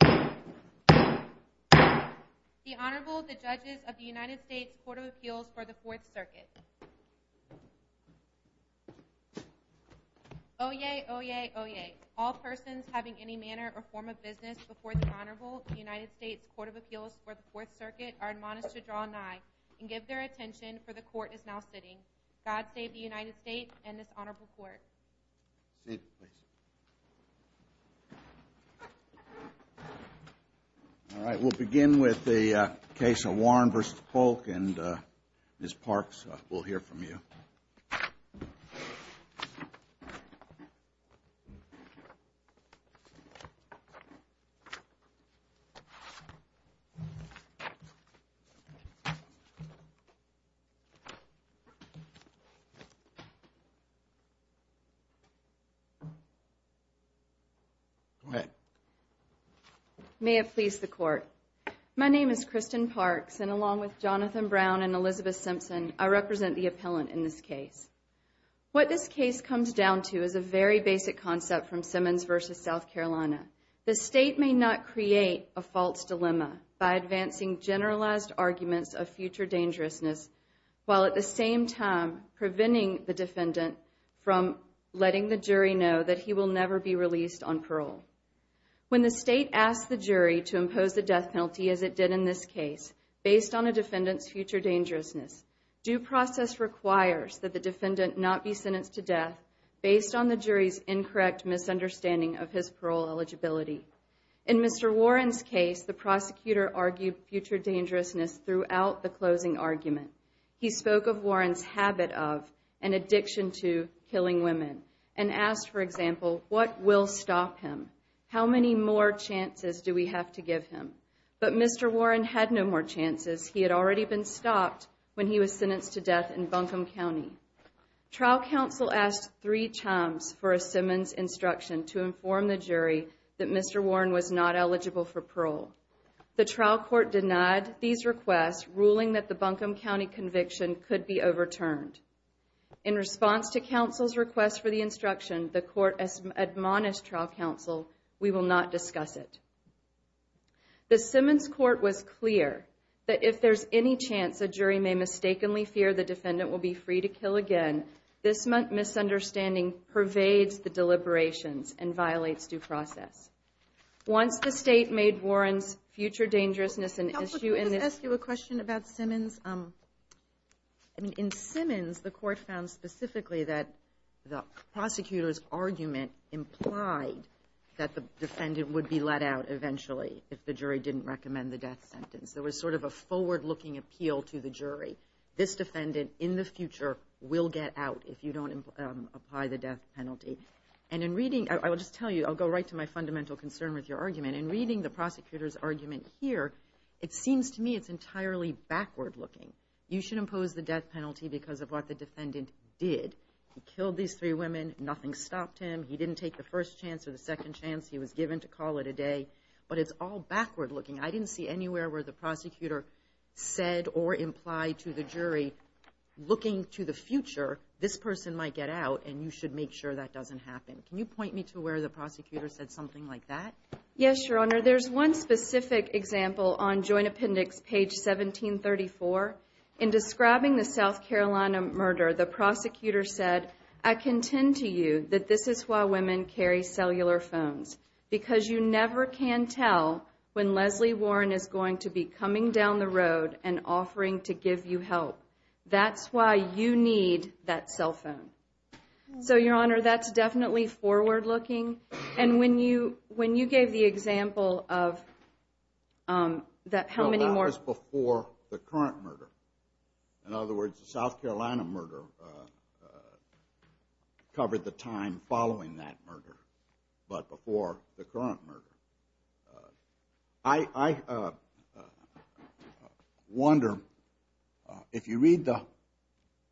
The Honorable, the Judges of the United States Court of Appeals for the Fourth Circuit. Oyez, oyez, oyez. All persons having any manner or form of business before the Honorable, the United States Court of Appeals for the Fourth Circuit, are admonished to draw nigh and give their attention, for the Court is now sitting. God save the United States and this Honorable Court. Sit, please. All right, we'll begin with the case of Warren v. Polk, and Ms. Parks, we'll hear from you. Go ahead. May it please the Court. My name is Kristen Parks, and along with Jonathan Brown and Elizabeth Simpson, I represent the appellant in this case. What this case comes down to is a very basic concept from Simmons v. South Carolina. The State may not create a false dilemma by advancing generalized arguments of future dangerousness while at the same time preventing the defendant from letting the jury know that he will never be released on parole. When the State asks the jury to impose the death penalty as it did in this case, based on a defendant's future dangerousness, due process requires that the defendant not be sentenced to death based on the jury's incorrect misunderstanding of his parole eligibility. In Mr. Warren's case, the prosecutor argued future dangerousness throughout the closing argument. He spoke of Warren's habit of and addiction to killing women and asked, for example, what will stop him? How many more chances do we have to give him? But Mr. Warren had no more chances. He had already been stopped when he was sentenced to death in Buncombe County. Trial counsel asked three times for a Simmons instruction to inform the jury that Mr. Warren was not eligible for parole. The trial court denied these requests, ruling that the Buncombe County conviction could be overturned. In response to counsel's request for the instruction, the court admonished trial counsel, we will not discuss it. The Simmons court was clear that if there's any chance a jury may mistakenly fear the defendant will be free to kill again, this misunderstanding pervades the deliberations and violates due process. Once the State made Warren's future dangerousness an issue in this- Counsel, can I just ask you a question about Simmons? I mean, in Simmons, the court found specifically that the prosecutor's argument implied that the defendant would be let out eventually if the jury didn't recommend the death sentence. There was sort of a forward-looking appeal to the jury. This defendant, in the future, will get out if you don't apply the death penalty. And in reading- I will just tell you, I'll go right to my fundamental concern with your argument. In reading the prosecutor's argument here, it seems to me it's entirely backward-looking. You should impose the death penalty because of what the defendant did. He killed these three women. Nothing stopped him. He didn't take the first chance or the second chance. He was given to call it a day. But it's all backward-looking. I didn't see anywhere where the prosecutor said or implied to the jury, looking to the future, this person might get out and you should make sure that doesn't happen. Can you point me to where the prosecutor said something like that? Yes, Your Honor. There's one specific example on Joint Appendix page 1734. In describing the South Carolina murder, the prosecutor said, I contend to you that this is why women carry cellular phones, because you never can tell when Leslie Warren is going to be coming down the road and offering to give you help. That's why you need that cell phone. So, Your Honor, that's definitely forward-looking. And when you gave the example of how many more- In other words, the South Carolina murder covered the time following that murder, but before the current murder. I wonder, if you read the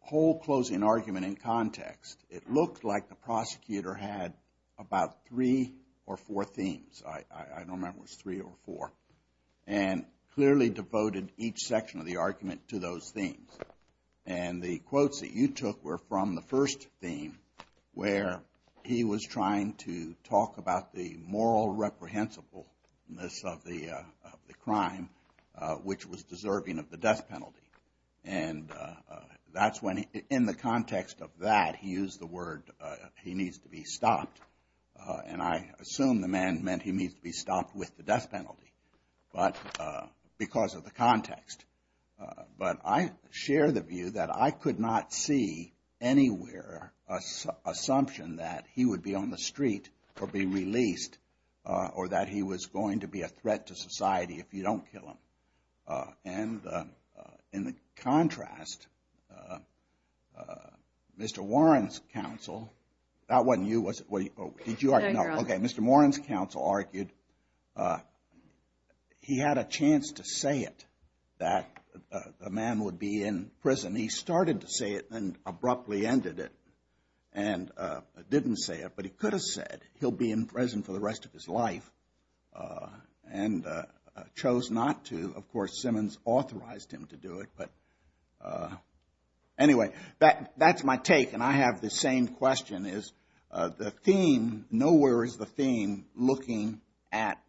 whole closing argument in context, it looked like the prosecutor had about three or four themes. I don't remember if it was three or four. And clearly devoted each section of the argument to those themes. And the quotes that you took were from the first theme, where he was trying to talk about the moral reprehensibleness of the crime, which was deserving of the death penalty. In the context of that, he used the word, he needs to be stopped. And I assume the man meant he needs to be stopped with the death penalty, because of the context. But I share the view that I could not see anywhere an assumption that he would be on the street or be released, or that he was going to be a threat to society if you don't kill him. And in the contrast, Mr. Warren's counsel, that wasn't you, was it? Did you argue? Okay, Mr. Warren's counsel argued he had a chance to say it, that the man would be in prison. He started to say it and abruptly ended it and didn't say it. But he could have said he'll be in prison for the rest of his life and chose not to. Of course, Simmons authorized him to do it. But anyway, that's my take. And I have the same question, is the theme, nowhere is the theme looking at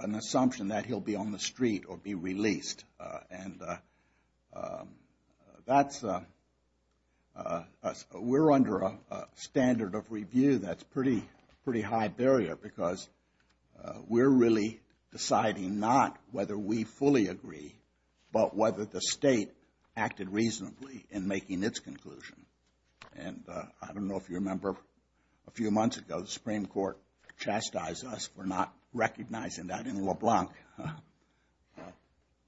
an assumption that he'll be on the street or be released. And we're under a standard of review that's a pretty high barrier, because we're really deciding not whether we fully agree, but whether the state acted reasonably in making its conclusion. And I don't know if you remember a few months ago, the Supreme Court chastised us for not recognizing that in LeBlanc.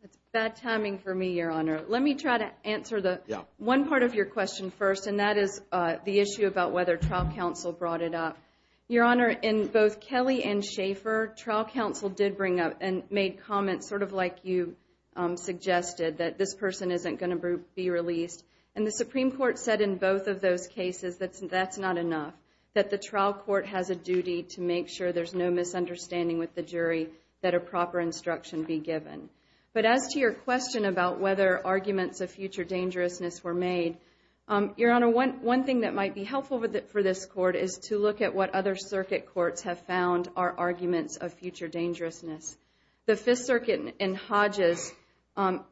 That's bad timing for me, Your Honor. Let me try to answer one part of your question first, and that is the issue about whether trial counsel brought it up. Your Honor, in both Kelly and Schaefer, trial counsel did bring up and made comments sort of like you suggested, that this person isn't going to be released. And the Supreme Court said in both of those cases that that's not enough, that the trial court has a duty to make sure there's no misunderstanding with the jury that a proper instruction be given. But as to your question about whether arguments of future dangerousness were made, Your Honor, one thing that might be helpful for this court is to look at what other circuit courts have found are arguments of future dangerousness. The Fifth Circuit in Hodges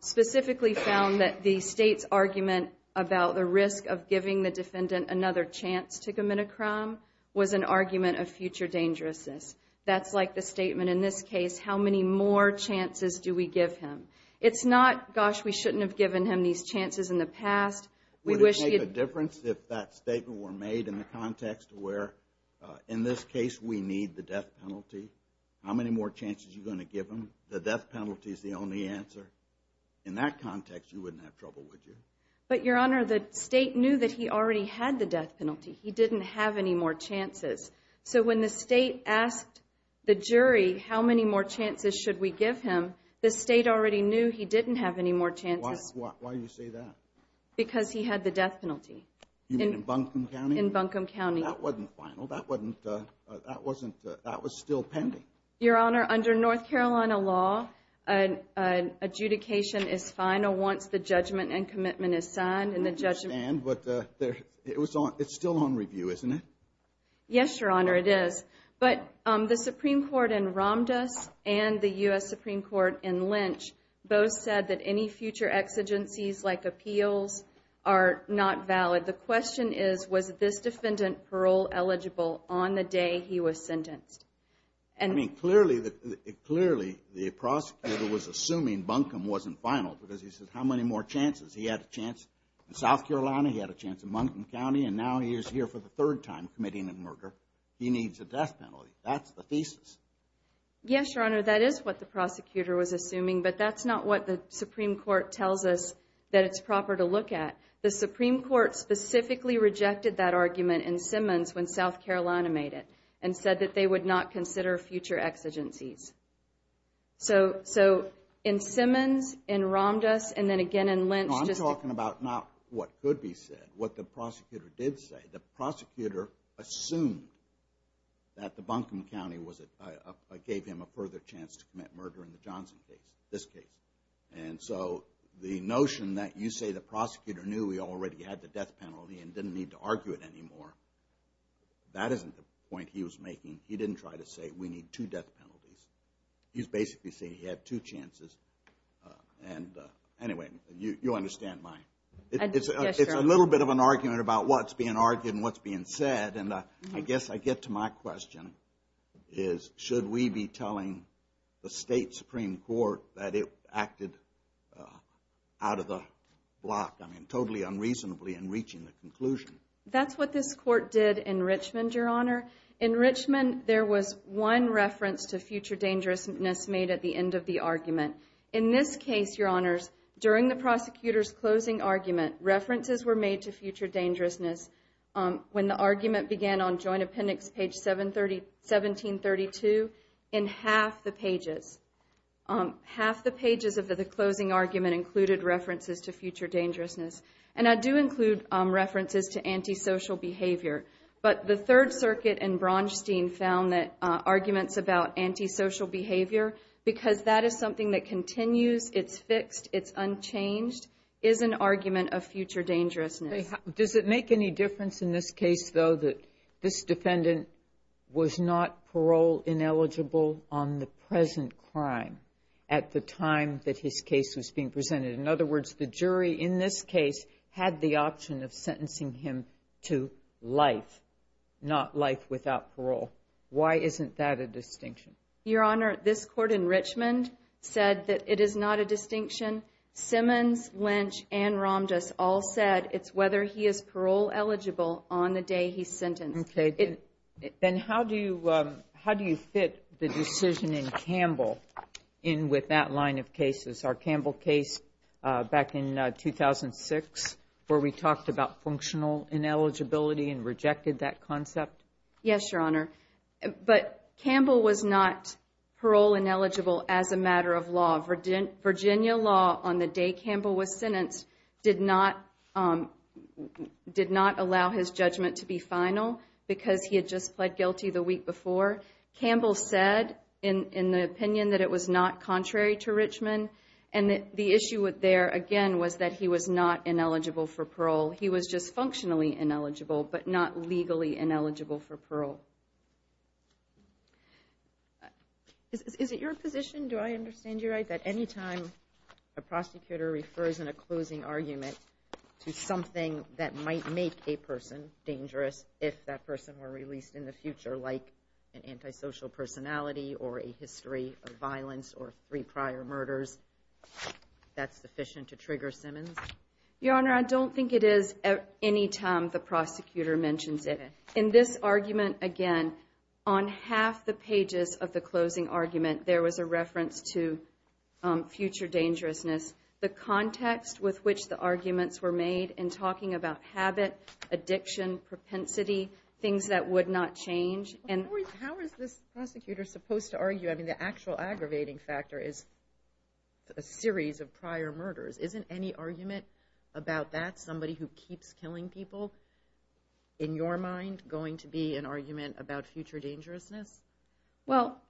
specifically found that the state's argument about the risk of giving the defendant another chance to commit a crime was an argument of future dangerousness. That's like the statement in this case, how many more chances do we give him? It's not, gosh, we shouldn't have given him these chances in the past. Would it make a difference if that statement were made in the context where in this case we need the death penalty? How many more chances are you going to give him? The death penalty is the only answer. In that context, you wouldn't have trouble, would you? But, Your Honor, the state knew that he already had the death penalty. He didn't have any more chances. So when the state asked the jury how many more chances should we give him, the state already knew he didn't have any more chances. Why do you say that? Because he had the death penalty. You mean in Buncombe County? In Buncombe County. That wasn't final. That was still pending. Your Honor, under North Carolina law, adjudication is final once the judgment and commitment is signed. I understand, but it's still on review, isn't it? Yes, Your Honor, it is. Both said that any future exigencies like appeals are not valid. The question is, was this defendant parole eligible on the day he was sentenced? I mean, clearly the prosecutor was assuming Buncombe wasn't final because he said how many more chances? He had a chance in South Carolina. He had a chance in Buncombe County, and now he is here for the third time committing a murder. He needs a death penalty. That's the thesis. Yes, Your Honor, that is what the prosecutor was assuming, but that's not what the Supreme Court tells us that it's proper to look at. The Supreme Court specifically rejected that argument in Simmons when South Carolina made it and said that they would not consider future exigencies. So in Simmons, in Ramdas, and then again in Lynch. No, I'm talking about not what could be said, what the prosecutor did say. The prosecutor assumed that Buncombe County gave him a further chance to commit murder in the Johnson case, this case. And so the notion that you say the prosecutor knew he already had the death penalty and didn't need to argue it anymore, that isn't the point he was making. He didn't try to say we need two death penalties. He's basically saying he had two chances. Anyway, you understand my... It's a little bit of an argument about what's being argued and what's being said, and I guess I get to my question, is should we be telling the state Supreme Court that it acted out of the block, I mean totally unreasonably, in reaching the conclusion? That's what this court did in Richmond, Your Honor. In Richmond, there was one reference to future dangerousness made at the end of the argument. In this case, Your Honors, during the prosecutor's closing argument, references were made to future dangerousness when the argument began on joint appendix page 1732 in half the pages. Half the pages of the closing argument included references to future dangerousness, and I do include references to antisocial behavior. But the Third Circuit and Bronstein found that arguments about antisocial behavior, because that is something that continues, it's fixed, it's unchanged, is an argument of future dangerousness. Does it make any difference in this case, though, that this defendant was not parole-ineligible on the present crime at the time that his case was being presented? In other words, the jury in this case had the option of sentencing him to life, not life without parole. Why isn't that a distinction? Your Honor, this court in Richmond said that it is not a distinction. Simmons, Lynch, and Ramdas all said it's whether he is parole-eligible on the day he's sentenced. Okay. Then how do you fit the decision in Campbell in with that line of cases? Our Campbell case back in 2006 where we talked about functional ineligibility and rejected that concept? Yes, Your Honor. But Campbell was not parole-ineligible as a matter of law. Virginia law, on the day Campbell was sentenced, did not allow his judgment to be final because he had just pled guilty the week before. Campbell said in the opinion that it was not contrary to Richmond, and the issue there, again, was that he was not ineligible for parole. He was just functionally ineligible but not legally ineligible for parole. Is it your position, do I understand you right, that any time a prosecutor refers in a closing argument to something that might make a person dangerous if that person were released in the future, like an antisocial personality or a history of violence or three prior murders, that's sufficient to trigger Simmons? Your Honor, I don't think it is any time the prosecutor mentions it. In this argument, again, on half the pages of the closing argument, there was a reference to future dangerousness. The context with which the arguments were made in talking about habit, addiction, propensity, things that would not change. How is this prosecutor supposed to argue? I mean, the actual aggravating factor is a series of prior murders. Isn't any argument about that, somebody who keeps killing people, in your mind going to be an argument about future dangerousness? Well,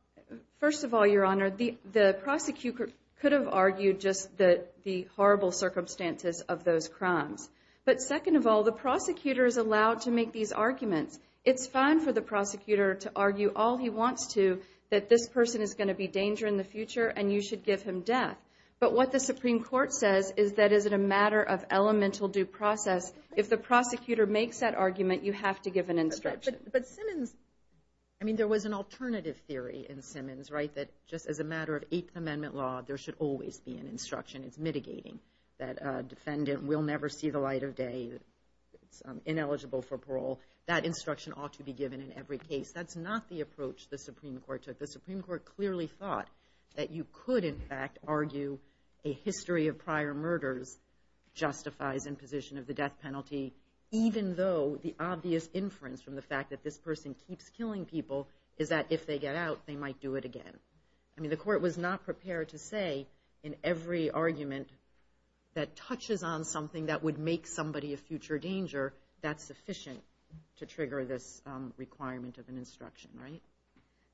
first of all, Your Honor, the prosecutor could have argued just the horrible circumstances of those crimes. But second of all, the prosecutor is allowed to make these arguments. It's fine for the prosecutor to argue all he wants to that this person is going to be a danger in the future and you should give him death. But what the Supreme Court says is that it is a matter of elemental due process. If the prosecutor makes that argument, you have to give an instruction. But Simmons, I mean, there was an alternative theory in Simmons, right, that just as a matter of Eighth Amendment law, there should always be an instruction. It's mitigating that a defendant will never see the light of day. It's ineligible for parole. That instruction ought to be given in every case. That's not the approach the Supreme Court took. The Supreme Court clearly thought that you could, in fact, argue a history of prior murders justifies imposition of the death penalty even though the obvious inference from the fact that this person keeps killing people is that if they get out, they might do it again. I mean, the court was not prepared to say in every argument that touches on something that would make somebody a future danger that's sufficient to trigger this requirement of an instruction, right?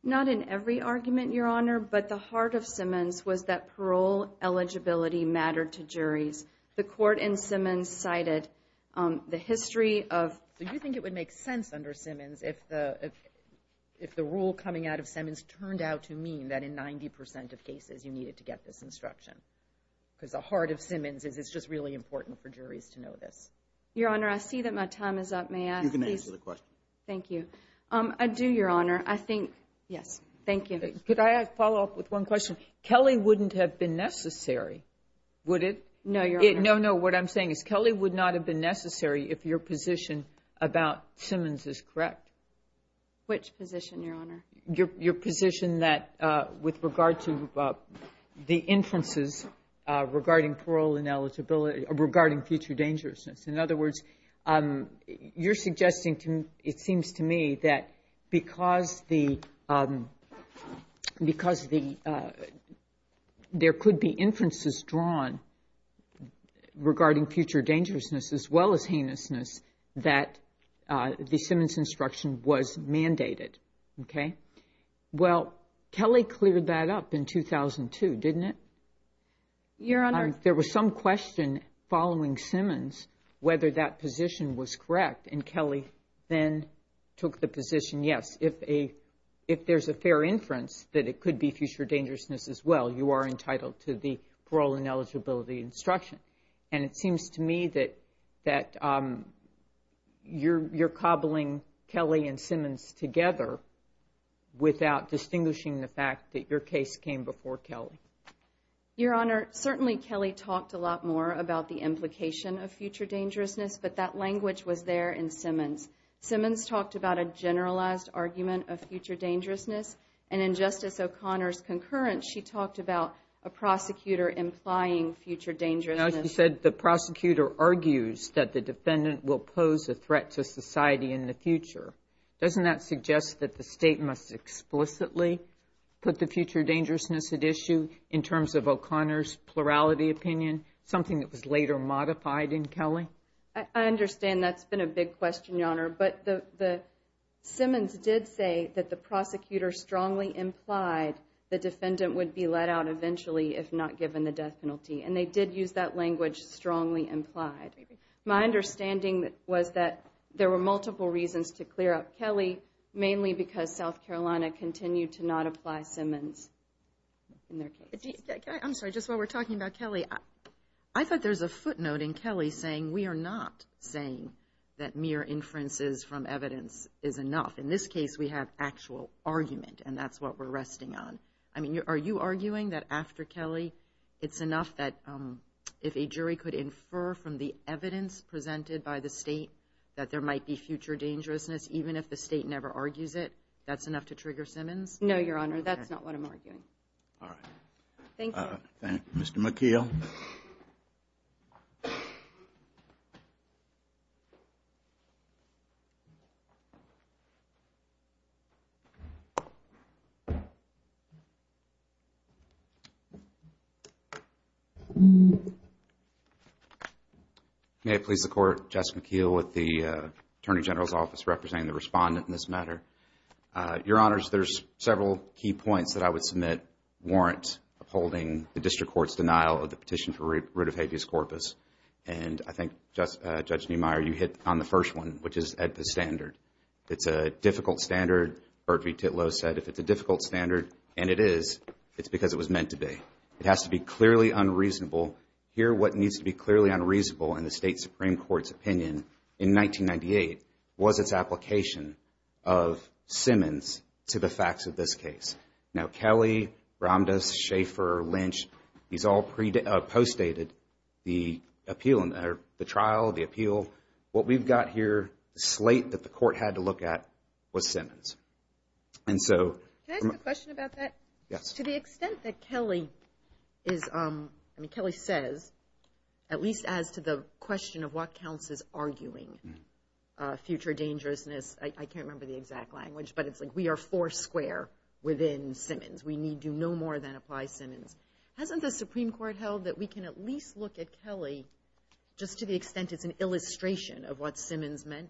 Not in every argument, Your Honor, but the heart of Simmons was that parole eligibility mattered to juries. The court in Simmons cited the history of Do you think it would make sense under Simmons if the rule coming out of Simmons turned out to mean that in 90% of cases you needed to get this instruction? Because the heart of Simmons is it's just really important for juries to know this. Your Honor, I see that my time is up. May I please? You can answer the question. Thank you. I do, Your Honor. I think, yes. Thank you. Could I follow up with one question? Kelly wouldn't have been necessary, would it? No, Your Honor. No, no, what I'm saying is Kelly would not have been necessary if your position about Simmons is correct. Which position, Your Honor? Your position that with regard to the inferences regarding parole and eligibility, regarding future dangerousness. In other words, you're suggesting to me, it seems to me, that because there could be inferences drawn regarding future dangerousness as well as heinousness that the Simmons instruction was mandated. Okay? Well, Kelly cleared that up in 2002, didn't it? Your Honor. There was some question following Simmons whether that position was correct and Kelly then took the position, yes, if there's a fair inference that it could be future dangerousness as well, you are entitled to the parole and eligibility instruction. And it seems to me that you're cobbling Kelly and Simmons together without distinguishing the fact that your case came before Kelly. Your Honor, certainly Kelly talked a lot more about the implication of future dangerousness, but that language was there in Simmons. Simmons talked about a generalized argument of future dangerousness, and in Justice O'Connor's concurrence, she talked about a prosecutor implying future dangerousness. Now, she said the prosecutor argues that the defendant will pose a threat to society in the future. Doesn't that suggest that the state must explicitly put the future dangerousness at issue in terms of O'Connor's plurality opinion, something that was later modified in Kelly? I understand that's been a big question, Your Honor, but Simmons did say that the prosecutor strongly implied the defendant would be let out eventually if not given the death penalty, and they did use that language, strongly implied. My understanding was that there were multiple reasons to clear up Kelly, mainly because South Carolina continued to not apply Simmons in their case. I'm sorry, just while we're talking about Kelly, I thought there was a footnote in Kelly saying we are not saying that mere inferences from evidence is enough. In this case, we have actual argument, and that's what we're resting on. Are you arguing that after Kelly it's enough that if a jury could infer from the evidence presented by the state that there might be future dangerousness even if the state never argues it, that's enough to trigger Simmons? No, Your Honor, that's not what I'm arguing. All right. Thank you. Thank you, Mr. McKeel. May it please the Court, Jess McKeel with the Attorney General's Office representing the respondent in this matter. Your Honors, there's several key points that I would submit warrant upholding the district court's denial of the petition for root of habeas corpus, and I think, Judge Neumeier, you hit on the first one, which is at the standard. It's a difficult standard. Bert V. Titlow said if it's a difficult standard, and it is, it's because it was meant to be. It has to be clearly unreasonable. Here, what needs to be clearly unreasonable in the state Supreme Court's opinion in 1998 was its application of Simmons to the facts of this case. Now, Kelly, Ramdas, Schaefer, Lynch, these all postdated the appeal, the trial, the appeal. What we've got here, the slate that the court had to look at was Simmons. Can I ask a question about that? Yes. To the extent that Kelly says, at least as to the question of what counts as arguing future dangerousness, I can't remember the exact language, but it's like we are four square within Simmons. We need to know more than apply Simmons. Hasn't the Supreme Court held that we can at least look at Kelly just to the extent it's an illustration of what Simmons meant?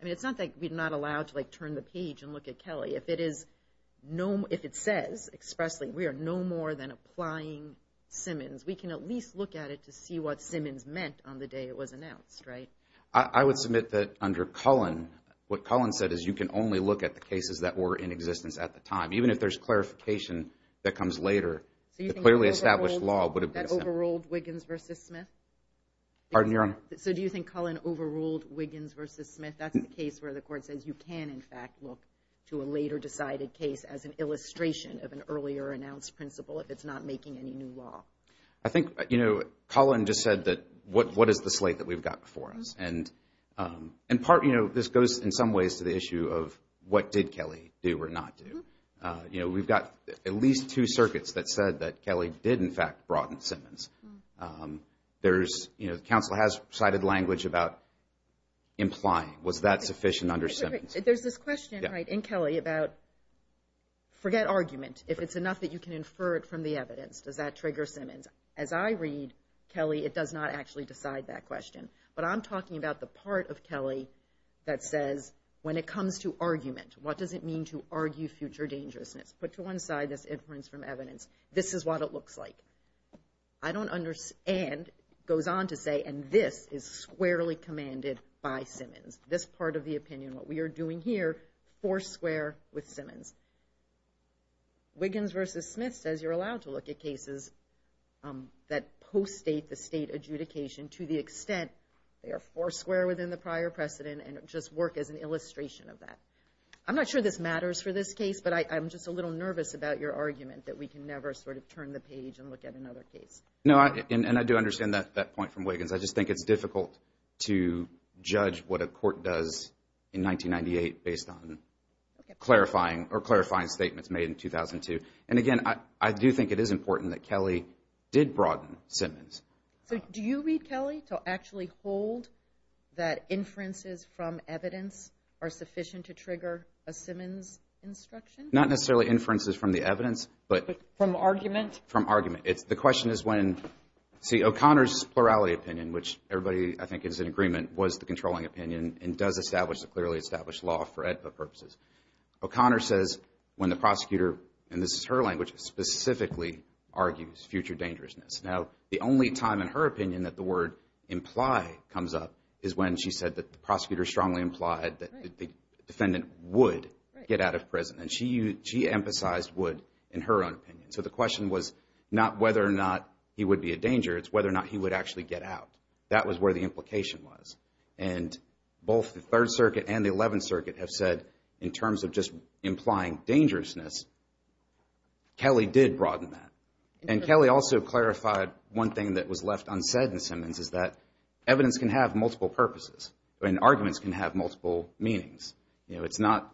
I mean, it's not like we're not allowed to turn the page and look at Kelly. If it says expressly we are no more than applying Simmons, we can at least look at it to see what Simmons meant on the day it was announced, right? I would submit that under Cullen, what Cullen said is you can only look at the cases that were in existence at the time. Even if there's clarification that comes later, the clearly established law would have been the same. So you think that overruled Wiggins v. Smith? Pardon, Your Honor? So do you think Cullen overruled Wiggins v. Smith? That's the case where the court says you can, in fact, look to a later decided case as an illustration of an earlier announced principle if it's not making any new law. I think, you know, Cullen just said that what is the slate that we've got before us? And in part, you know, this goes in some ways to the issue of what did Kelly do or not do. You know, we've got at least two circuits that said that Kelly did, in fact, broaden Simmons. There's, you know, the counsel has cited language about implying was that sufficient under Simmons? There's this question, right, in Kelly about forget argument. If it's enough that you can infer it from the evidence, does that trigger Simmons? As I read Kelly, it does not actually decide that question. But I'm talking about the part of Kelly that says when it comes to argument, what does it mean to argue future dangerousness? Put to one side this inference from evidence. This is what it looks like. I don't understand goes on to say, and this is squarely commanded by Simmons. This part of the opinion, what we are doing here, four square with Simmons. Wiggins v. Smith says you're allowed to look at cases that post-state the state adjudication to the extent they are four square within the prior precedent and just work as an illustration of that. I'm not sure this matters for this case, but I'm just a little nervous about your argument that we can never sort of turn the page and look at another case. No, and I do understand that point from Wiggins. I just think it's difficult to judge what a court does in 1998 based on clarifying statements made in 2002. And again, I do think it is important that Kelly did broaden Simmons. So do you read Kelly to actually hold that inferences from evidence are sufficient to trigger a Simmons instruction? Not necessarily inferences from the evidence, but from argument. The question is when, see O'Connor's plurality opinion, which everybody I think is in agreement was the controlling opinion and does establish a clearly established law for AEDPA purposes. O'Connor says when the prosecutor, and this is her language, specifically argues future dangerousness. Now, the only time in her opinion that the word imply comes up is when she said that the prosecutor strongly implied that the defendant would get out of prison. And she emphasized would in her own opinion. So the question was not whether or not he would be a danger, it's whether or not he would actually get out. That was where the implication was. And both the Third Circuit and the Eleventh Circuit have said in terms of just implying dangerousness, Kelly did broaden that. And Kelly also clarified one thing that was left unsaid in Simmons is that evidence can have multiple purposes and arguments can have multiple meanings. You know, it's not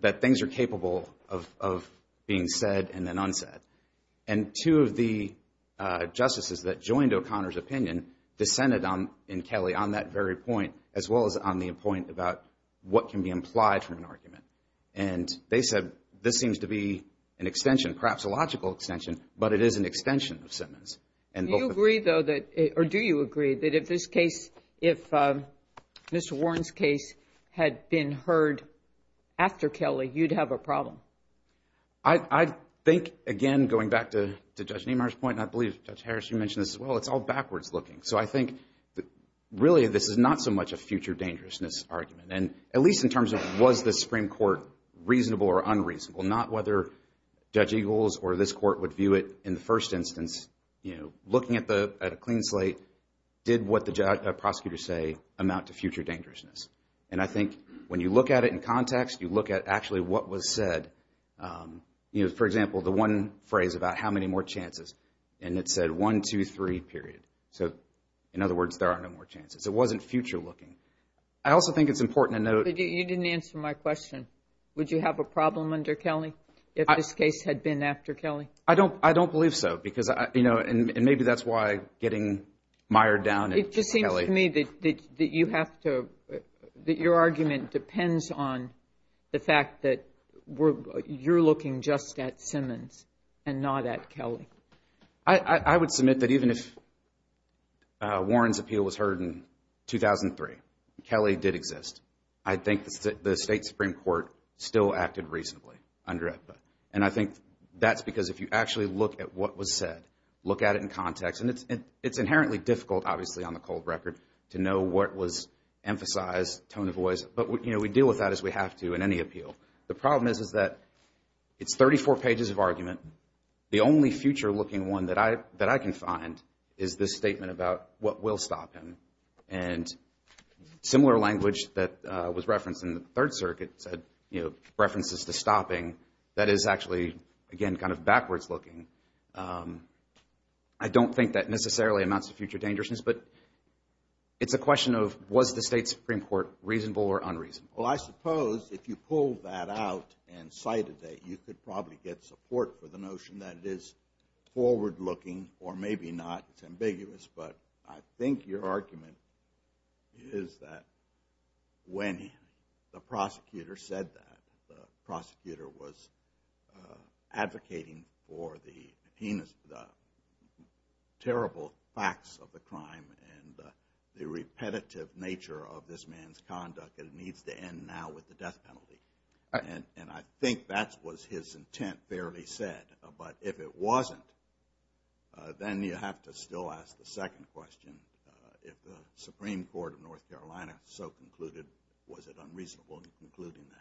that things are capable of being said and then unsaid. And two of the justices that joined O'Connor's opinion dissented in Kelly on that very point as well as on the point about what can be implied from an argument. And they said this seems to be an extension, perhaps a logical extension, but it is an extension of Simmons. Do you agree, though, or do you agree that if this case, if Mr. Warren's case had been heard after Kelly, you'd have a problem? I think, again, going back to Judge Niemeyer's point, and I believe Judge Harris, you mentioned this as well, it's all backwards looking. So I think really this is not so much a future dangerousness argument, at least in terms of was the Supreme Court reasonable or unreasonable, not whether Judge Eagles or this court would view it in the first instance, you know, looking at a clean slate, did what the prosecutors say amount to future dangerousness? And I think when you look at it in context, you look at actually what was said. For example, the one phrase about how many more chances, and it said one, two, three, period. So, in other words, there are no more chances. It wasn't future looking. I also think it's important to note. You didn't answer my question. Would you have a problem under Kelly if this case had been after Kelly? I don't believe so, and maybe that's why getting mired down at Kelly. It just seems to me that you have to, that your argument depends on the fact that you're looking just at Simmons and not at Kelly. I would submit that even if Warren's appeal was heard in 2003, Kelly did exist. I think the State Supreme Court still acted reasonably under EPA, and I think that's because if you actually look at what was said, look at it in context, and it's inherently difficult, obviously, on the cold record to know what was emphasized, tone of voice, but, you know, we deal with that as we have to in any appeal. The problem is that it's 34 pages of argument. The only future looking one that I can find is this statement about what will stop him, and similar language that was referenced in the Third Circuit said, you know, references to stopping. That is actually, again, kind of backwards looking. I don't think that necessarily amounts to future dangerousness, but it's a question of was the State Supreme Court reasonable or unreasonable? Well, I suppose if you pulled that out and cited that, you could probably get support for the notion that it is forward looking or maybe not. It's ambiguous, but I think your argument is that when the prosecutor said that, the prosecutor was advocating for the heinous, the terrible facts of the crime and the repetitive nature of this man's conduct, and it needs to end now with the death penalty. And I think that was his intent fairly said, but if it wasn't, then you have to still ask the second question. If the Supreme Court of North Carolina so concluded, was it unreasonable in concluding that?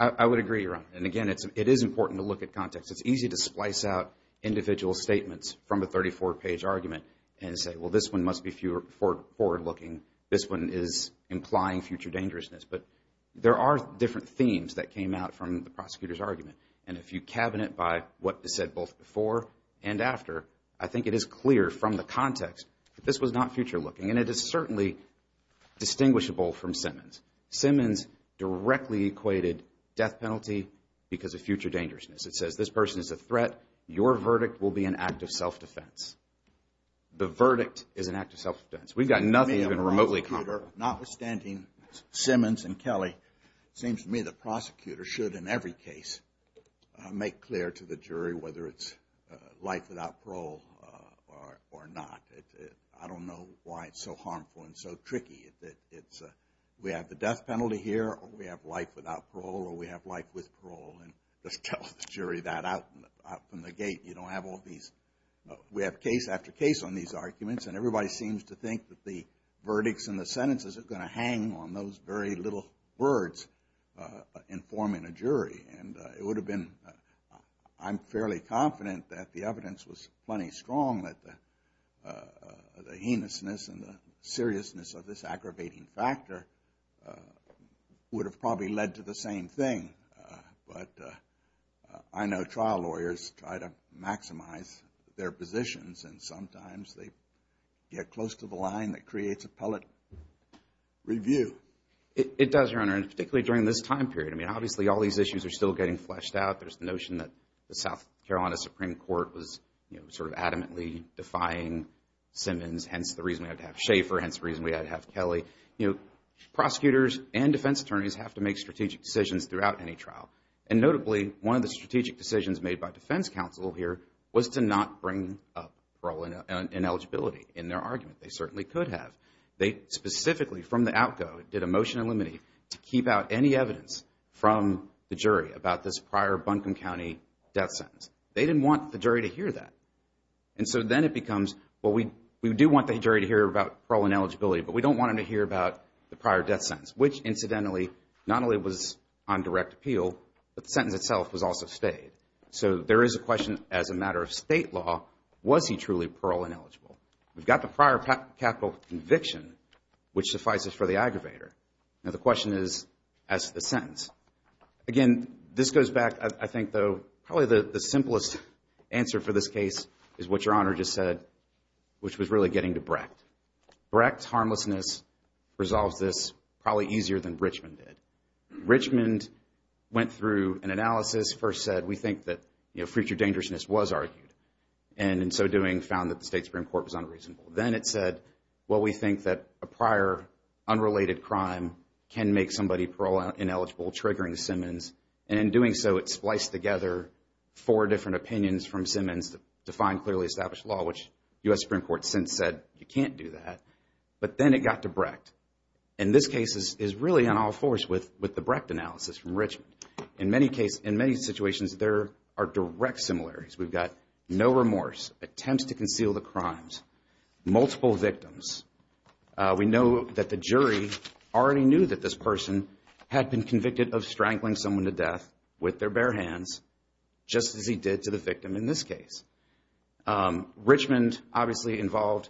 I would agree, Your Honor. And again, it is important to look at context. It's easy to splice out individual statements from a 34-page argument and say, well, this one must be forward looking. This one is implying future dangerousness. But there are different themes that came out from the prosecutor's argument, and if you cabinet by what is said both before and after, I think it is clear from the context that this was not future looking, and it is certainly distinguishable from Simmons. Simmons directly equated death penalty because of future dangerousness. It says this person is a threat. Your verdict will be an act of self-defense. The verdict is an act of self-defense. We've got nothing even remotely comparable. Notwithstanding Simmons and Kelly, it seems to me the prosecutor should, in every case, make clear to the jury whether it's life without parole or not. I don't know why it's so harmful and so tricky. We have the death penalty here, or we have life without parole, or we have life with parole, and just tell the jury that out from the gate. You don't have all these. We have case after case on these arguments, and everybody seems to think that the verdicts and the sentences are going to hang on those very little words informing a jury, and it would have been, I'm fairly confident that the evidence was plenty strong that the heinousness and the seriousness of this aggravating factor would have probably led to the same thing, but I know trial lawyers try to maximize their positions, and sometimes they get close to the line that creates a pellet review. It does, Your Honor, and particularly during this time period. I mean, obviously all these issues are still getting fleshed out. There's the notion that the South Carolina Supreme Court was sort of adamantly defying Simmons, hence the reason we had to have Schaefer, hence the reason we had to have Kelly. Prosecutors and defense attorneys have to make strategic decisions throughout any trial, and notably one of the strategic decisions made by defense counsel here was to not bring up parole and ineligibility in their argument. They certainly could have. They specifically, from the outgo, did a motion in limine to keep out any evidence from the jury about this prior Buncombe County death sentence. They didn't want the jury to hear that, and so then it becomes, well, we do want the jury to hear about parole and eligibility, but we don't want them to hear about the prior death sentence, which incidentally not only was on direct appeal, but the sentence itself was also stayed. So there is a question as a matter of state law, was he truly parole ineligible? We've got the prior capital conviction, which suffices for the aggravator. Now the question is, as to the sentence. Again, this goes back, I think, though, probably the simplest answer for this case is what Your Honor just said, which was really getting to Brecht. Brecht's harmlessness resolves this probably easier than Richmond did. Richmond went through an analysis, first said, we think that future dangerousness was argued, and in so doing found that the State Supreme Court was unreasonable. Then it said, well, we think that a prior unrelated crime can make somebody parole ineligible, triggering Simmons, and in doing so it spliced together four different opinions from Simmons to find clearly established law, which U.S. Supreme Court since said you can't do that. But then it got to Brecht, and this case is really on all fours with the Brecht analysis from Richmond. In many situations there are direct similarities. We've got no remorse, attempts to conceal the crimes, multiple victims. We know that the jury already knew that this person had been convicted of strangling someone to death with their bare hands just as he did to the victim in this case. Richmond obviously involved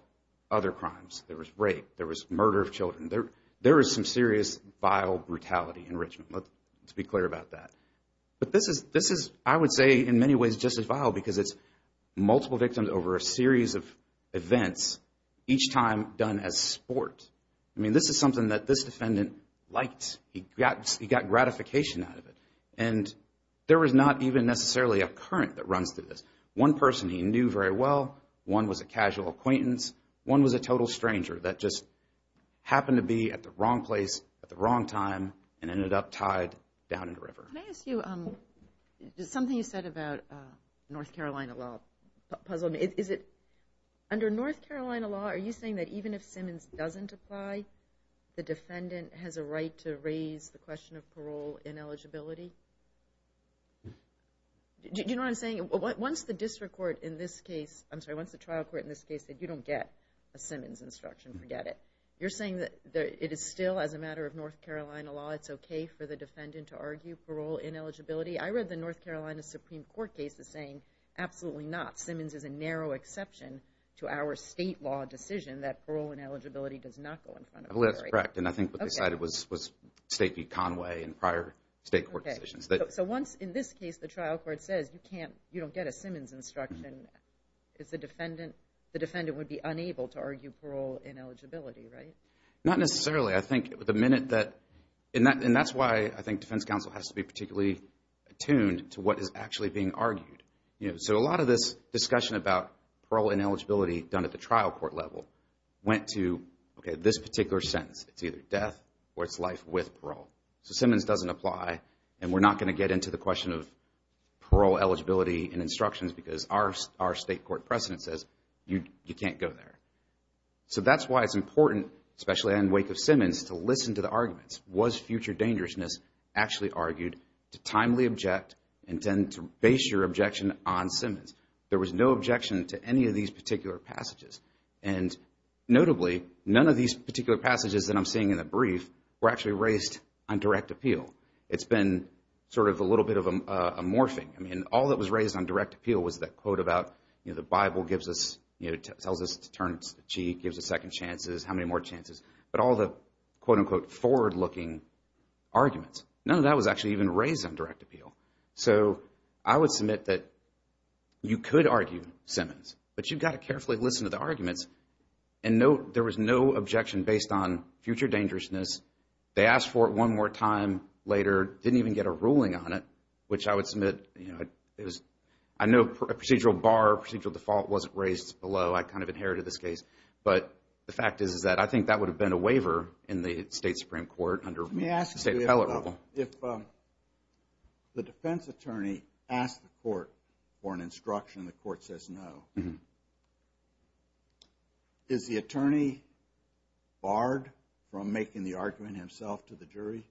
other crimes. There was rape. There was murder of children. There was some serious vile brutality in Richmond. Let's be clear about that. But this is, I would say, in many ways just as vile because it's multiple victims over a series of events, each time done as sport. I mean, this is something that this defendant liked. He got gratification out of it. And there was not even necessarily a current that runs through this. One person he knew very well. One was a casual acquaintance. One was a total stranger that just happened to be at the wrong place at the wrong time and ended up tied down in the river. Can I ask you, something you said about North Carolina law puzzled me. Under North Carolina law, are you saying that even if Simmons doesn't apply, the defendant has a right to raise the question of parole ineligibility? Do you know what I'm saying? Once the district court in this case, I'm sorry, once the trial court in this case said, you don't get a Simmons instruction. Forget it. You're saying that it is still, as a matter of North Carolina law, it's okay for the defendant to argue parole ineligibility? I read the North Carolina Supreme Court cases saying absolutely not. to our state law decision that parole ineligibility does not go in front of her. That's correct. And I think what they cited was State v. Conway and prior state court decisions. So once, in this case, the trial court says you don't get a Simmons instruction, the defendant would be unable to argue parole ineligibility, right? Not necessarily. I think the minute that, and that's why I think defense counsel has to be particularly attuned to what is actually being argued. So a lot of this discussion about parole ineligibility done at the trial court level went to, okay, this particular sentence. It's either death or it's life with parole. So Simmons doesn't apply, and we're not going to get into the question of parole eligibility and instructions because our state court precedent says you can't go there. So that's why it's important, especially in the wake of Simmons, to listen to the arguments. Was future dangerousness actually argued to timely object and then to base your objection on Simmons? There was no objection to any of these particular passages. And notably, none of these particular passages that I'm seeing in the brief were actually raised on direct appeal. It's been sort of a little bit of a morphing. I mean, all that was raised on direct appeal was that quote about, you know, the Bible gives us, you know, tells us to turn the cheek, gives us second chances, how many more chances. But all the quote-unquote forward-looking arguments, none of that was actually even raised on direct appeal. So I would submit that you could argue Simmons, but you've got to carefully listen to the arguments. And note there was no objection based on future dangerousness. They asked for it one more time later, didn't even get a ruling on it, which I would submit, you know, I know procedural bar, procedural default wasn't raised below. I kind of inherited this case. But the fact is that I think that would have been a waiver in the State Supreme Court under State appellate level. Let me ask you, if the defense attorney asked the court for an instruction and the court says no, is the attorney barred from making the argument himself to the jury?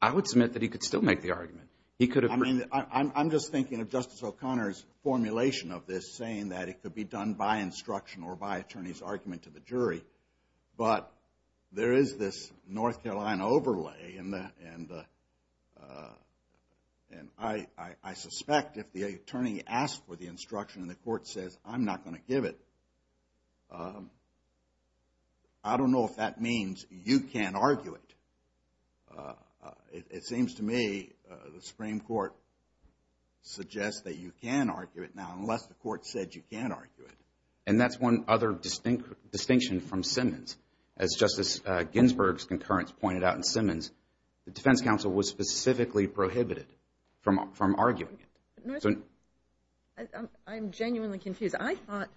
I would submit that he could still make the argument. I mean, I'm just thinking of Justice O'Connor's formulation of this, saying that it could be done by instruction or by attorney's argument to the jury. But there is this North Carolina overlay, and I suspect if the attorney asked for the instruction and the court says I'm not going to give it, I don't know if that means you can't argue it. It seems to me the Supreme Court suggests that you can argue it now unless the court said you can't argue it. And that's one other distinction from Simmons. As Justice Ginsburg's concurrence pointed out in Simmons, the defense counsel was specifically prohibited from arguing it. I'm genuinely confused. I thought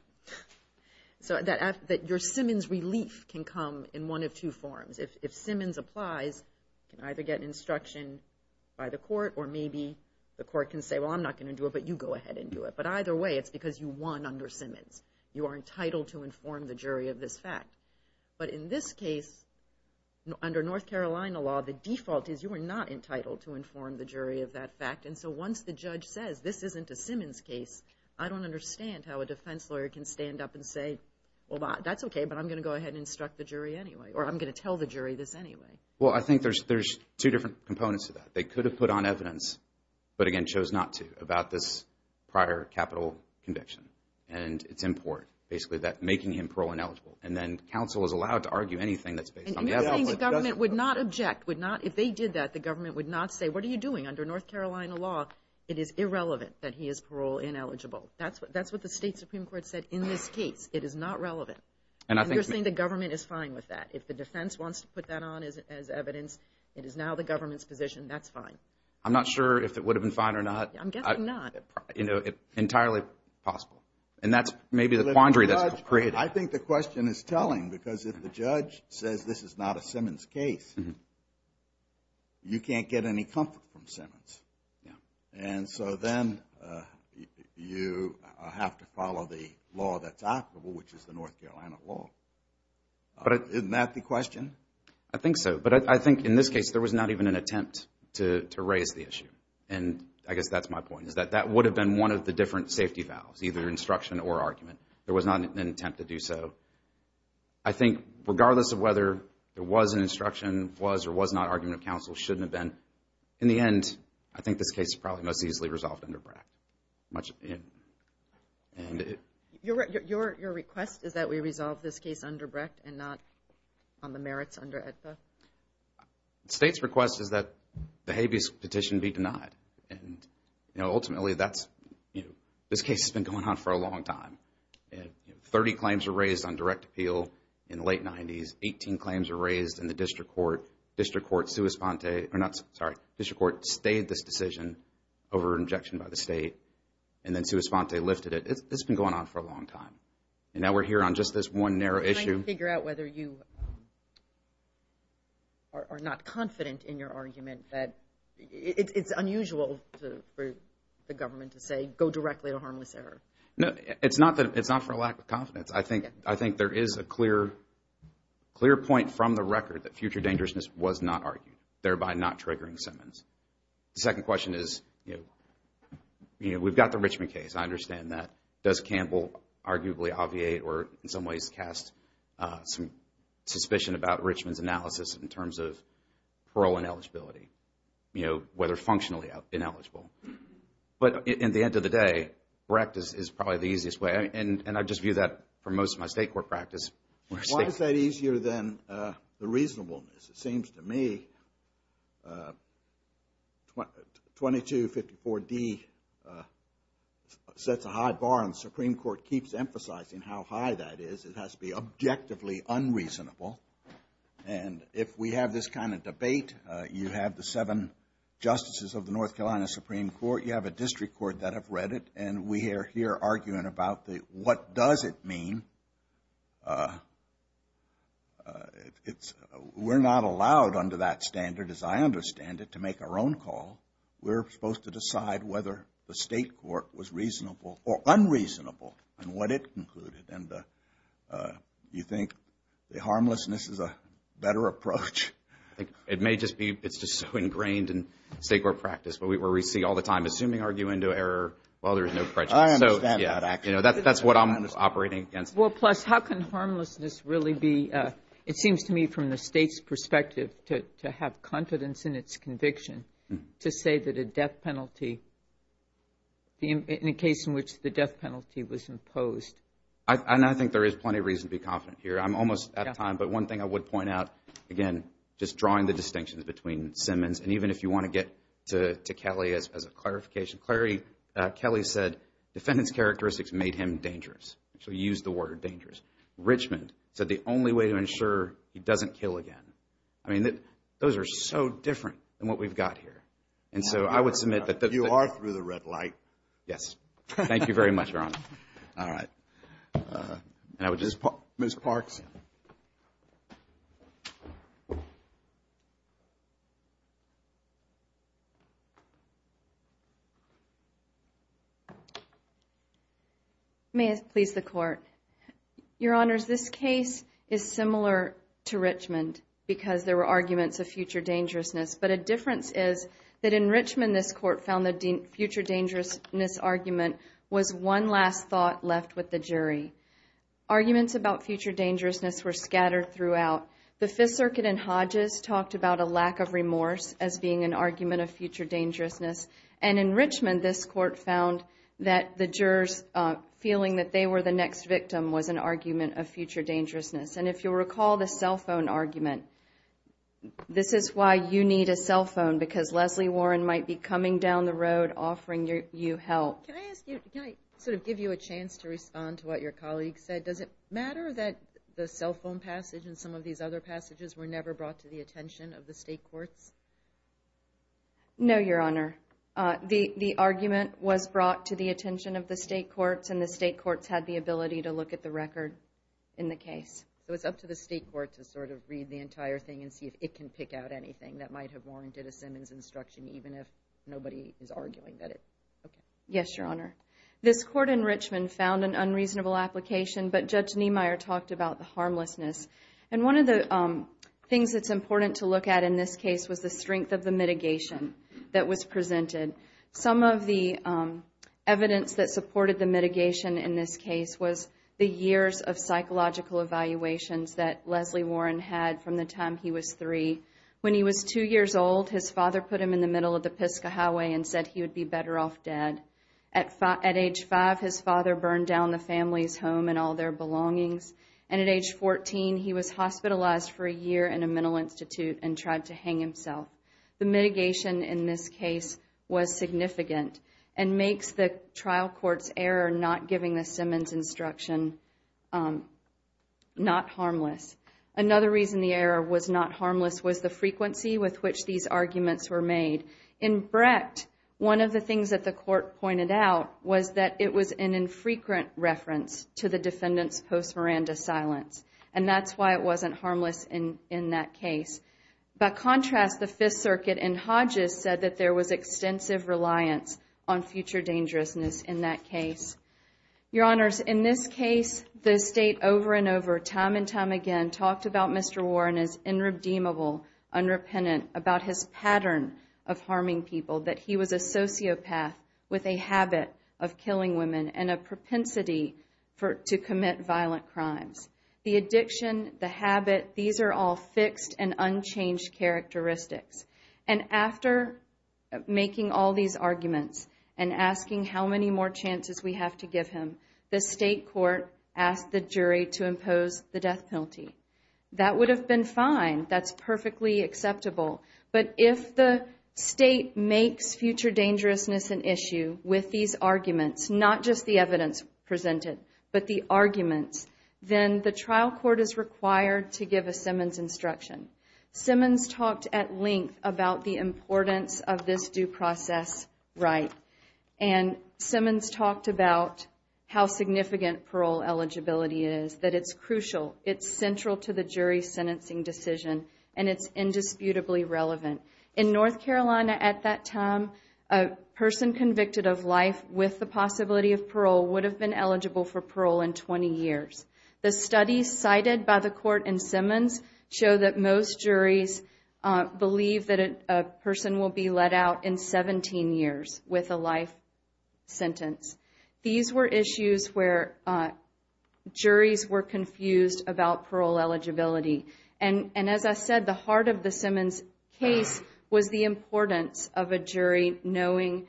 that your Simmons relief can come in one of two forms. If Simmons applies, you can either get an instruction by the court, or maybe the court can say, well, I'm not going to do it, but you go ahead and do it. But either way, it's because you won under Simmons. You are entitled to inform the jury of this fact. But in this case, under North Carolina law, the default is you are not entitled to inform the jury of that fact. And so once the judge says this isn't a Simmons case, I don't understand how a defense lawyer can stand up and say, well, that's okay, but I'm going to go ahead and instruct the jury anyway, or I'm going to tell the jury this anyway. Well, I think there's two different components to that. They could have put on evidence but, again, chose not to about this prior capital conviction. And it's important, basically, that making him parole-ineligible. And then counsel is allowed to argue anything that's based on the evidence. And you're saying the government would not object, would not – if they did that, the government would not say, what are you doing under North Carolina law? It is irrelevant that he is parole-ineligible. That's what the state Supreme Court said in this case. It is not relevant. And you're saying the government is fine with that. If the defense wants to put that on as evidence, it is now the government's position. That's fine. I'm not sure if it would have been fine or not. I'm guessing not. Entirely possible. And that's maybe the quandary that's created. I think the question is telling because if the judge says this is not a Simmons case, you can't get any comfort from Simmons. And so then you have to follow the law that's applicable, which is the North Carolina law. Isn't that the question? I think so. But I think in this case there was not even an attempt to raise the issue. And I guess that's my point, is that that would have been one of the different safety valves, either instruction or argument. There was not an attempt to do so. I think regardless of whether there was an instruction, was or was not argument of counsel, shouldn't have been. In the end, I think this case is probably most easily resolved under Brecht. Your request is that we resolve this case under Brecht and not on the merits under AEDPA? The state's request is that the habeas petition be denied. Ultimately, this case has been going on for a long time. Thirty claims were raised on direct appeal in the late 90s. Eighteen claims were raised in the district court. District court sued Esponte. Sorry, district court stayed this decision over an objection by the state, and then sued Esponte, lifted it. It's been going on for a long time. And now we're here on just this one narrow issue. Can I figure out whether you are not confident in your argument that it's unusual for the government to say, go directly to harmless error? No, it's not for a lack of confidence. I think there is a clear point from the record that future dangerousness was not argued, thereby not triggering Simmons. The second question is, you know, we've got the Richmond case. I understand that. Does Campbell arguably obviate or, in some ways, cast some suspicion about Richmond's analysis in terms of parole and eligibility, you know, whether functionally ineligible? But at the end of the day, Brecht is probably the easiest way. And I just view that for most of my state court practice. Why is that easier than the reasonableness? It seems to me 2254D sets a high bar, and the Supreme Court keeps emphasizing how high that is. It has to be objectively unreasonable. And if we have this kind of debate, you have the seven justices of the North Carolina Supreme Court, you have a district court that have read it, and we are here arguing about what does it mean. We're not allowed under that standard, as I understand it, to make our own call. We're supposed to decide whether the state court was reasonable or unreasonable in what it concluded. And you think the harmlessness is a better approach? It may just be it's just so ingrained in state court practice where we see all the time, assuming argue into error, well, there is no prejudice. That's what I'm operating against. Well, plus, how can harmlessness really be, it seems to me from the state's perspective, to have confidence in its conviction to say that a death penalty, in a case in which the death penalty was imposed. And I think there is plenty of reason to be confident here. I'm almost out of time, but one thing I would point out, again, just drawing the distinctions between Simmons, and even if you want to get to Kelly as a clarification, Kelly said defendant's characteristics made him dangerous. So he used the word dangerous. Richmond said the only way to ensure he doesn't kill again. I mean, those are so different than what we've got here. And so I would submit that you are through the red light. Yes. Thank you very much, Your Honor. All right. Ms. Parks. May it please the Court. Your Honors, this case is similar to Richmond because there were arguments of future dangerousness. But a difference is that in Richmond this Court found the future dangerousness argument was one last thought left with the jury. Arguments about future dangerousness were scattered throughout. The Fifth Circuit in Hodges talked about a lack of remorse as being an argument of future dangerousness. And in Richmond this Court found that the jurors feeling that they were the next victim was an argument of future dangerousness. And if you'll recall the cell phone argument, this is why you need a cell phone because Leslie Warren might be coming down the road and offering you help. Can I sort of give you a chance to respond to what your colleague said? Does it matter that the cell phone passage and some of these other passages were never brought to the attention of the state courts? No, Your Honor. The argument was brought to the attention of the state courts, and the state courts had the ability to look at the record in the case. So it's up to the state court to sort of read the entire thing and see if it can pick out anything that might have warranted a Simmons instruction even if nobody is arguing that it. Yes, Your Honor. This Court in Richmond found an unreasonable application, but Judge Niemeyer talked about the harmlessness. And one of the things that's important to look at in this case was the strength of the mitigation that was presented. Some of the evidence that supported the mitigation in this case was the years of psychological evaluations that Leslie Warren had from the time he was three. When he was two years old, his father put him in the middle of the Pisgah Highway and said he would be better off dead. At age five, his father burned down the family's home and all their belongings. And at age 14, he was hospitalized for a year in a mental institute and tried to hang himself. The mitigation in this case was significant and makes the trial court's error not giving the Simmons instruction not harmless. Another reason the error was not harmless was the frequency with which these arguments were made. In Brecht, one of the things that the court pointed out was that it was an infrequent reference to the defendant's post-Miranda silence. And that's why it wasn't harmless in that case. By contrast, the Fifth Circuit in Hodges said that there was extensive reliance on future dangerousness in that case. Your Honors, in this case, the State over and over, time and time again, talked about Mr. Warren as irredeemable, unrepentant, about his pattern of harming people, that he was a sociopath with a habit of killing women and a propensity to commit violent crimes. The addiction, the habit, these are all fixed and unchanged characteristics. And after making all these arguments and asking how many more chances we have to give him, the State court asked the jury to impose the death penalty. That would have been fine. That's perfectly acceptable. But if the State makes future dangerousness an issue with these arguments, not just the evidence presented, but the arguments, then the trial court is required to give a Simmons instruction. Simmons talked at length about the importance of this due process right. And Simmons talked about how significant parole eligibility is, that it's crucial, it's central to the jury's sentencing decision, and it's indisputably relevant. In North Carolina at that time, a person convicted of life with the possibility of parole would have been eligible for parole in 20 years. The studies cited by the court in Simmons show that most juries believe that a person will be let out in 17 years with a life sentence. These were issues where juries were confused about parole eligibility. And as I said, the heart of the Simmons case was the importance of a jury knowing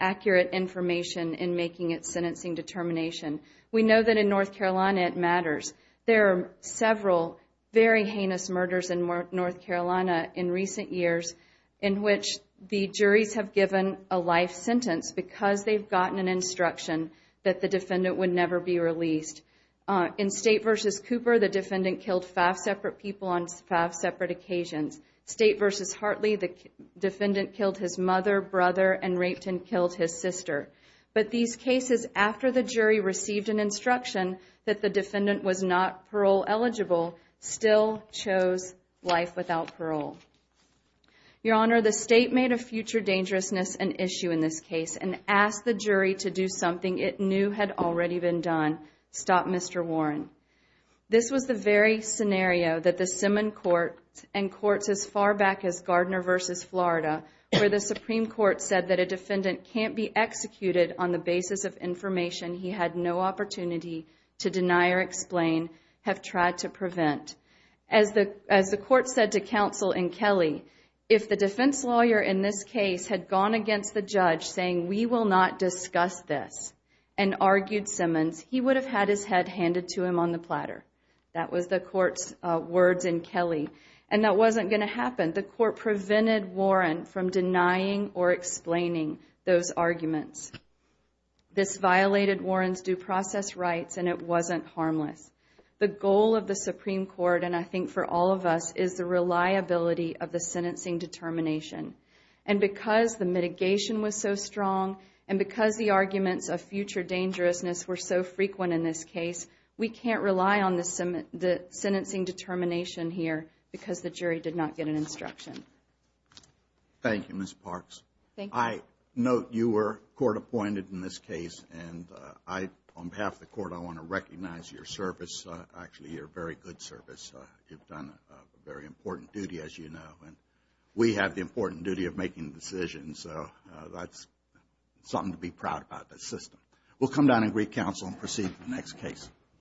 accurate information in making its sentencing determination. We know that in North Carolina it matters. There are several very heinous murders in North Carolina in recent years in which the juries have given a life sentence because they've gotten an instruction that the defendant would never be released. In State v. Cooper, the defendant killed five separate people on five separate occasions. State v. Hartley, the defendant killed his mother, brother, and raped and killed his sister. But these cases, after the jury received an instruction that the defendant was not parole eligible, still chose life without parole. Your Honor, the State made a future dangerousness an issue in this case and asked the jury to do something it knew had already been done, stop Mr. Warren. This was the very scenario that the Simmons court and courts as far back as Gardner v. Florida, where the Supreme Court said that a defendant can't be executed on the basis of information he had no opportunity to deny or explain, have tried to prevent. As the court said to counsel in Kelly, if the defense lawyer in this case had gone against the judge saying, we will not discuss this, and argued Simmons, he would have had his head handed to him on the platter. That was the court's words in Kelly, and that wasn't going to happen. The court prevented Warren from denying or explaining those arguments. This violated Warren's due process rights, and it wasn't harmless. The goal of the Supreme Court, and I think for all of us, is the reliability of the sentencing determination. And because the mitigation was so strong, and because the arguments of future dangerousness were so frequent in this case, we can't rely on the sentencing determination here, because the jury did not get an instruction. Thank you, Ms. Parks. I note you were court appointed in this case, and on behalf of the court, I want to recognize your service. Actually, your very good service. You've done a very important duty, as you know, and we have the important duty of making decisions, so that's something to be proud about, this system. We'll come down and greet counsel and proceed with the next case.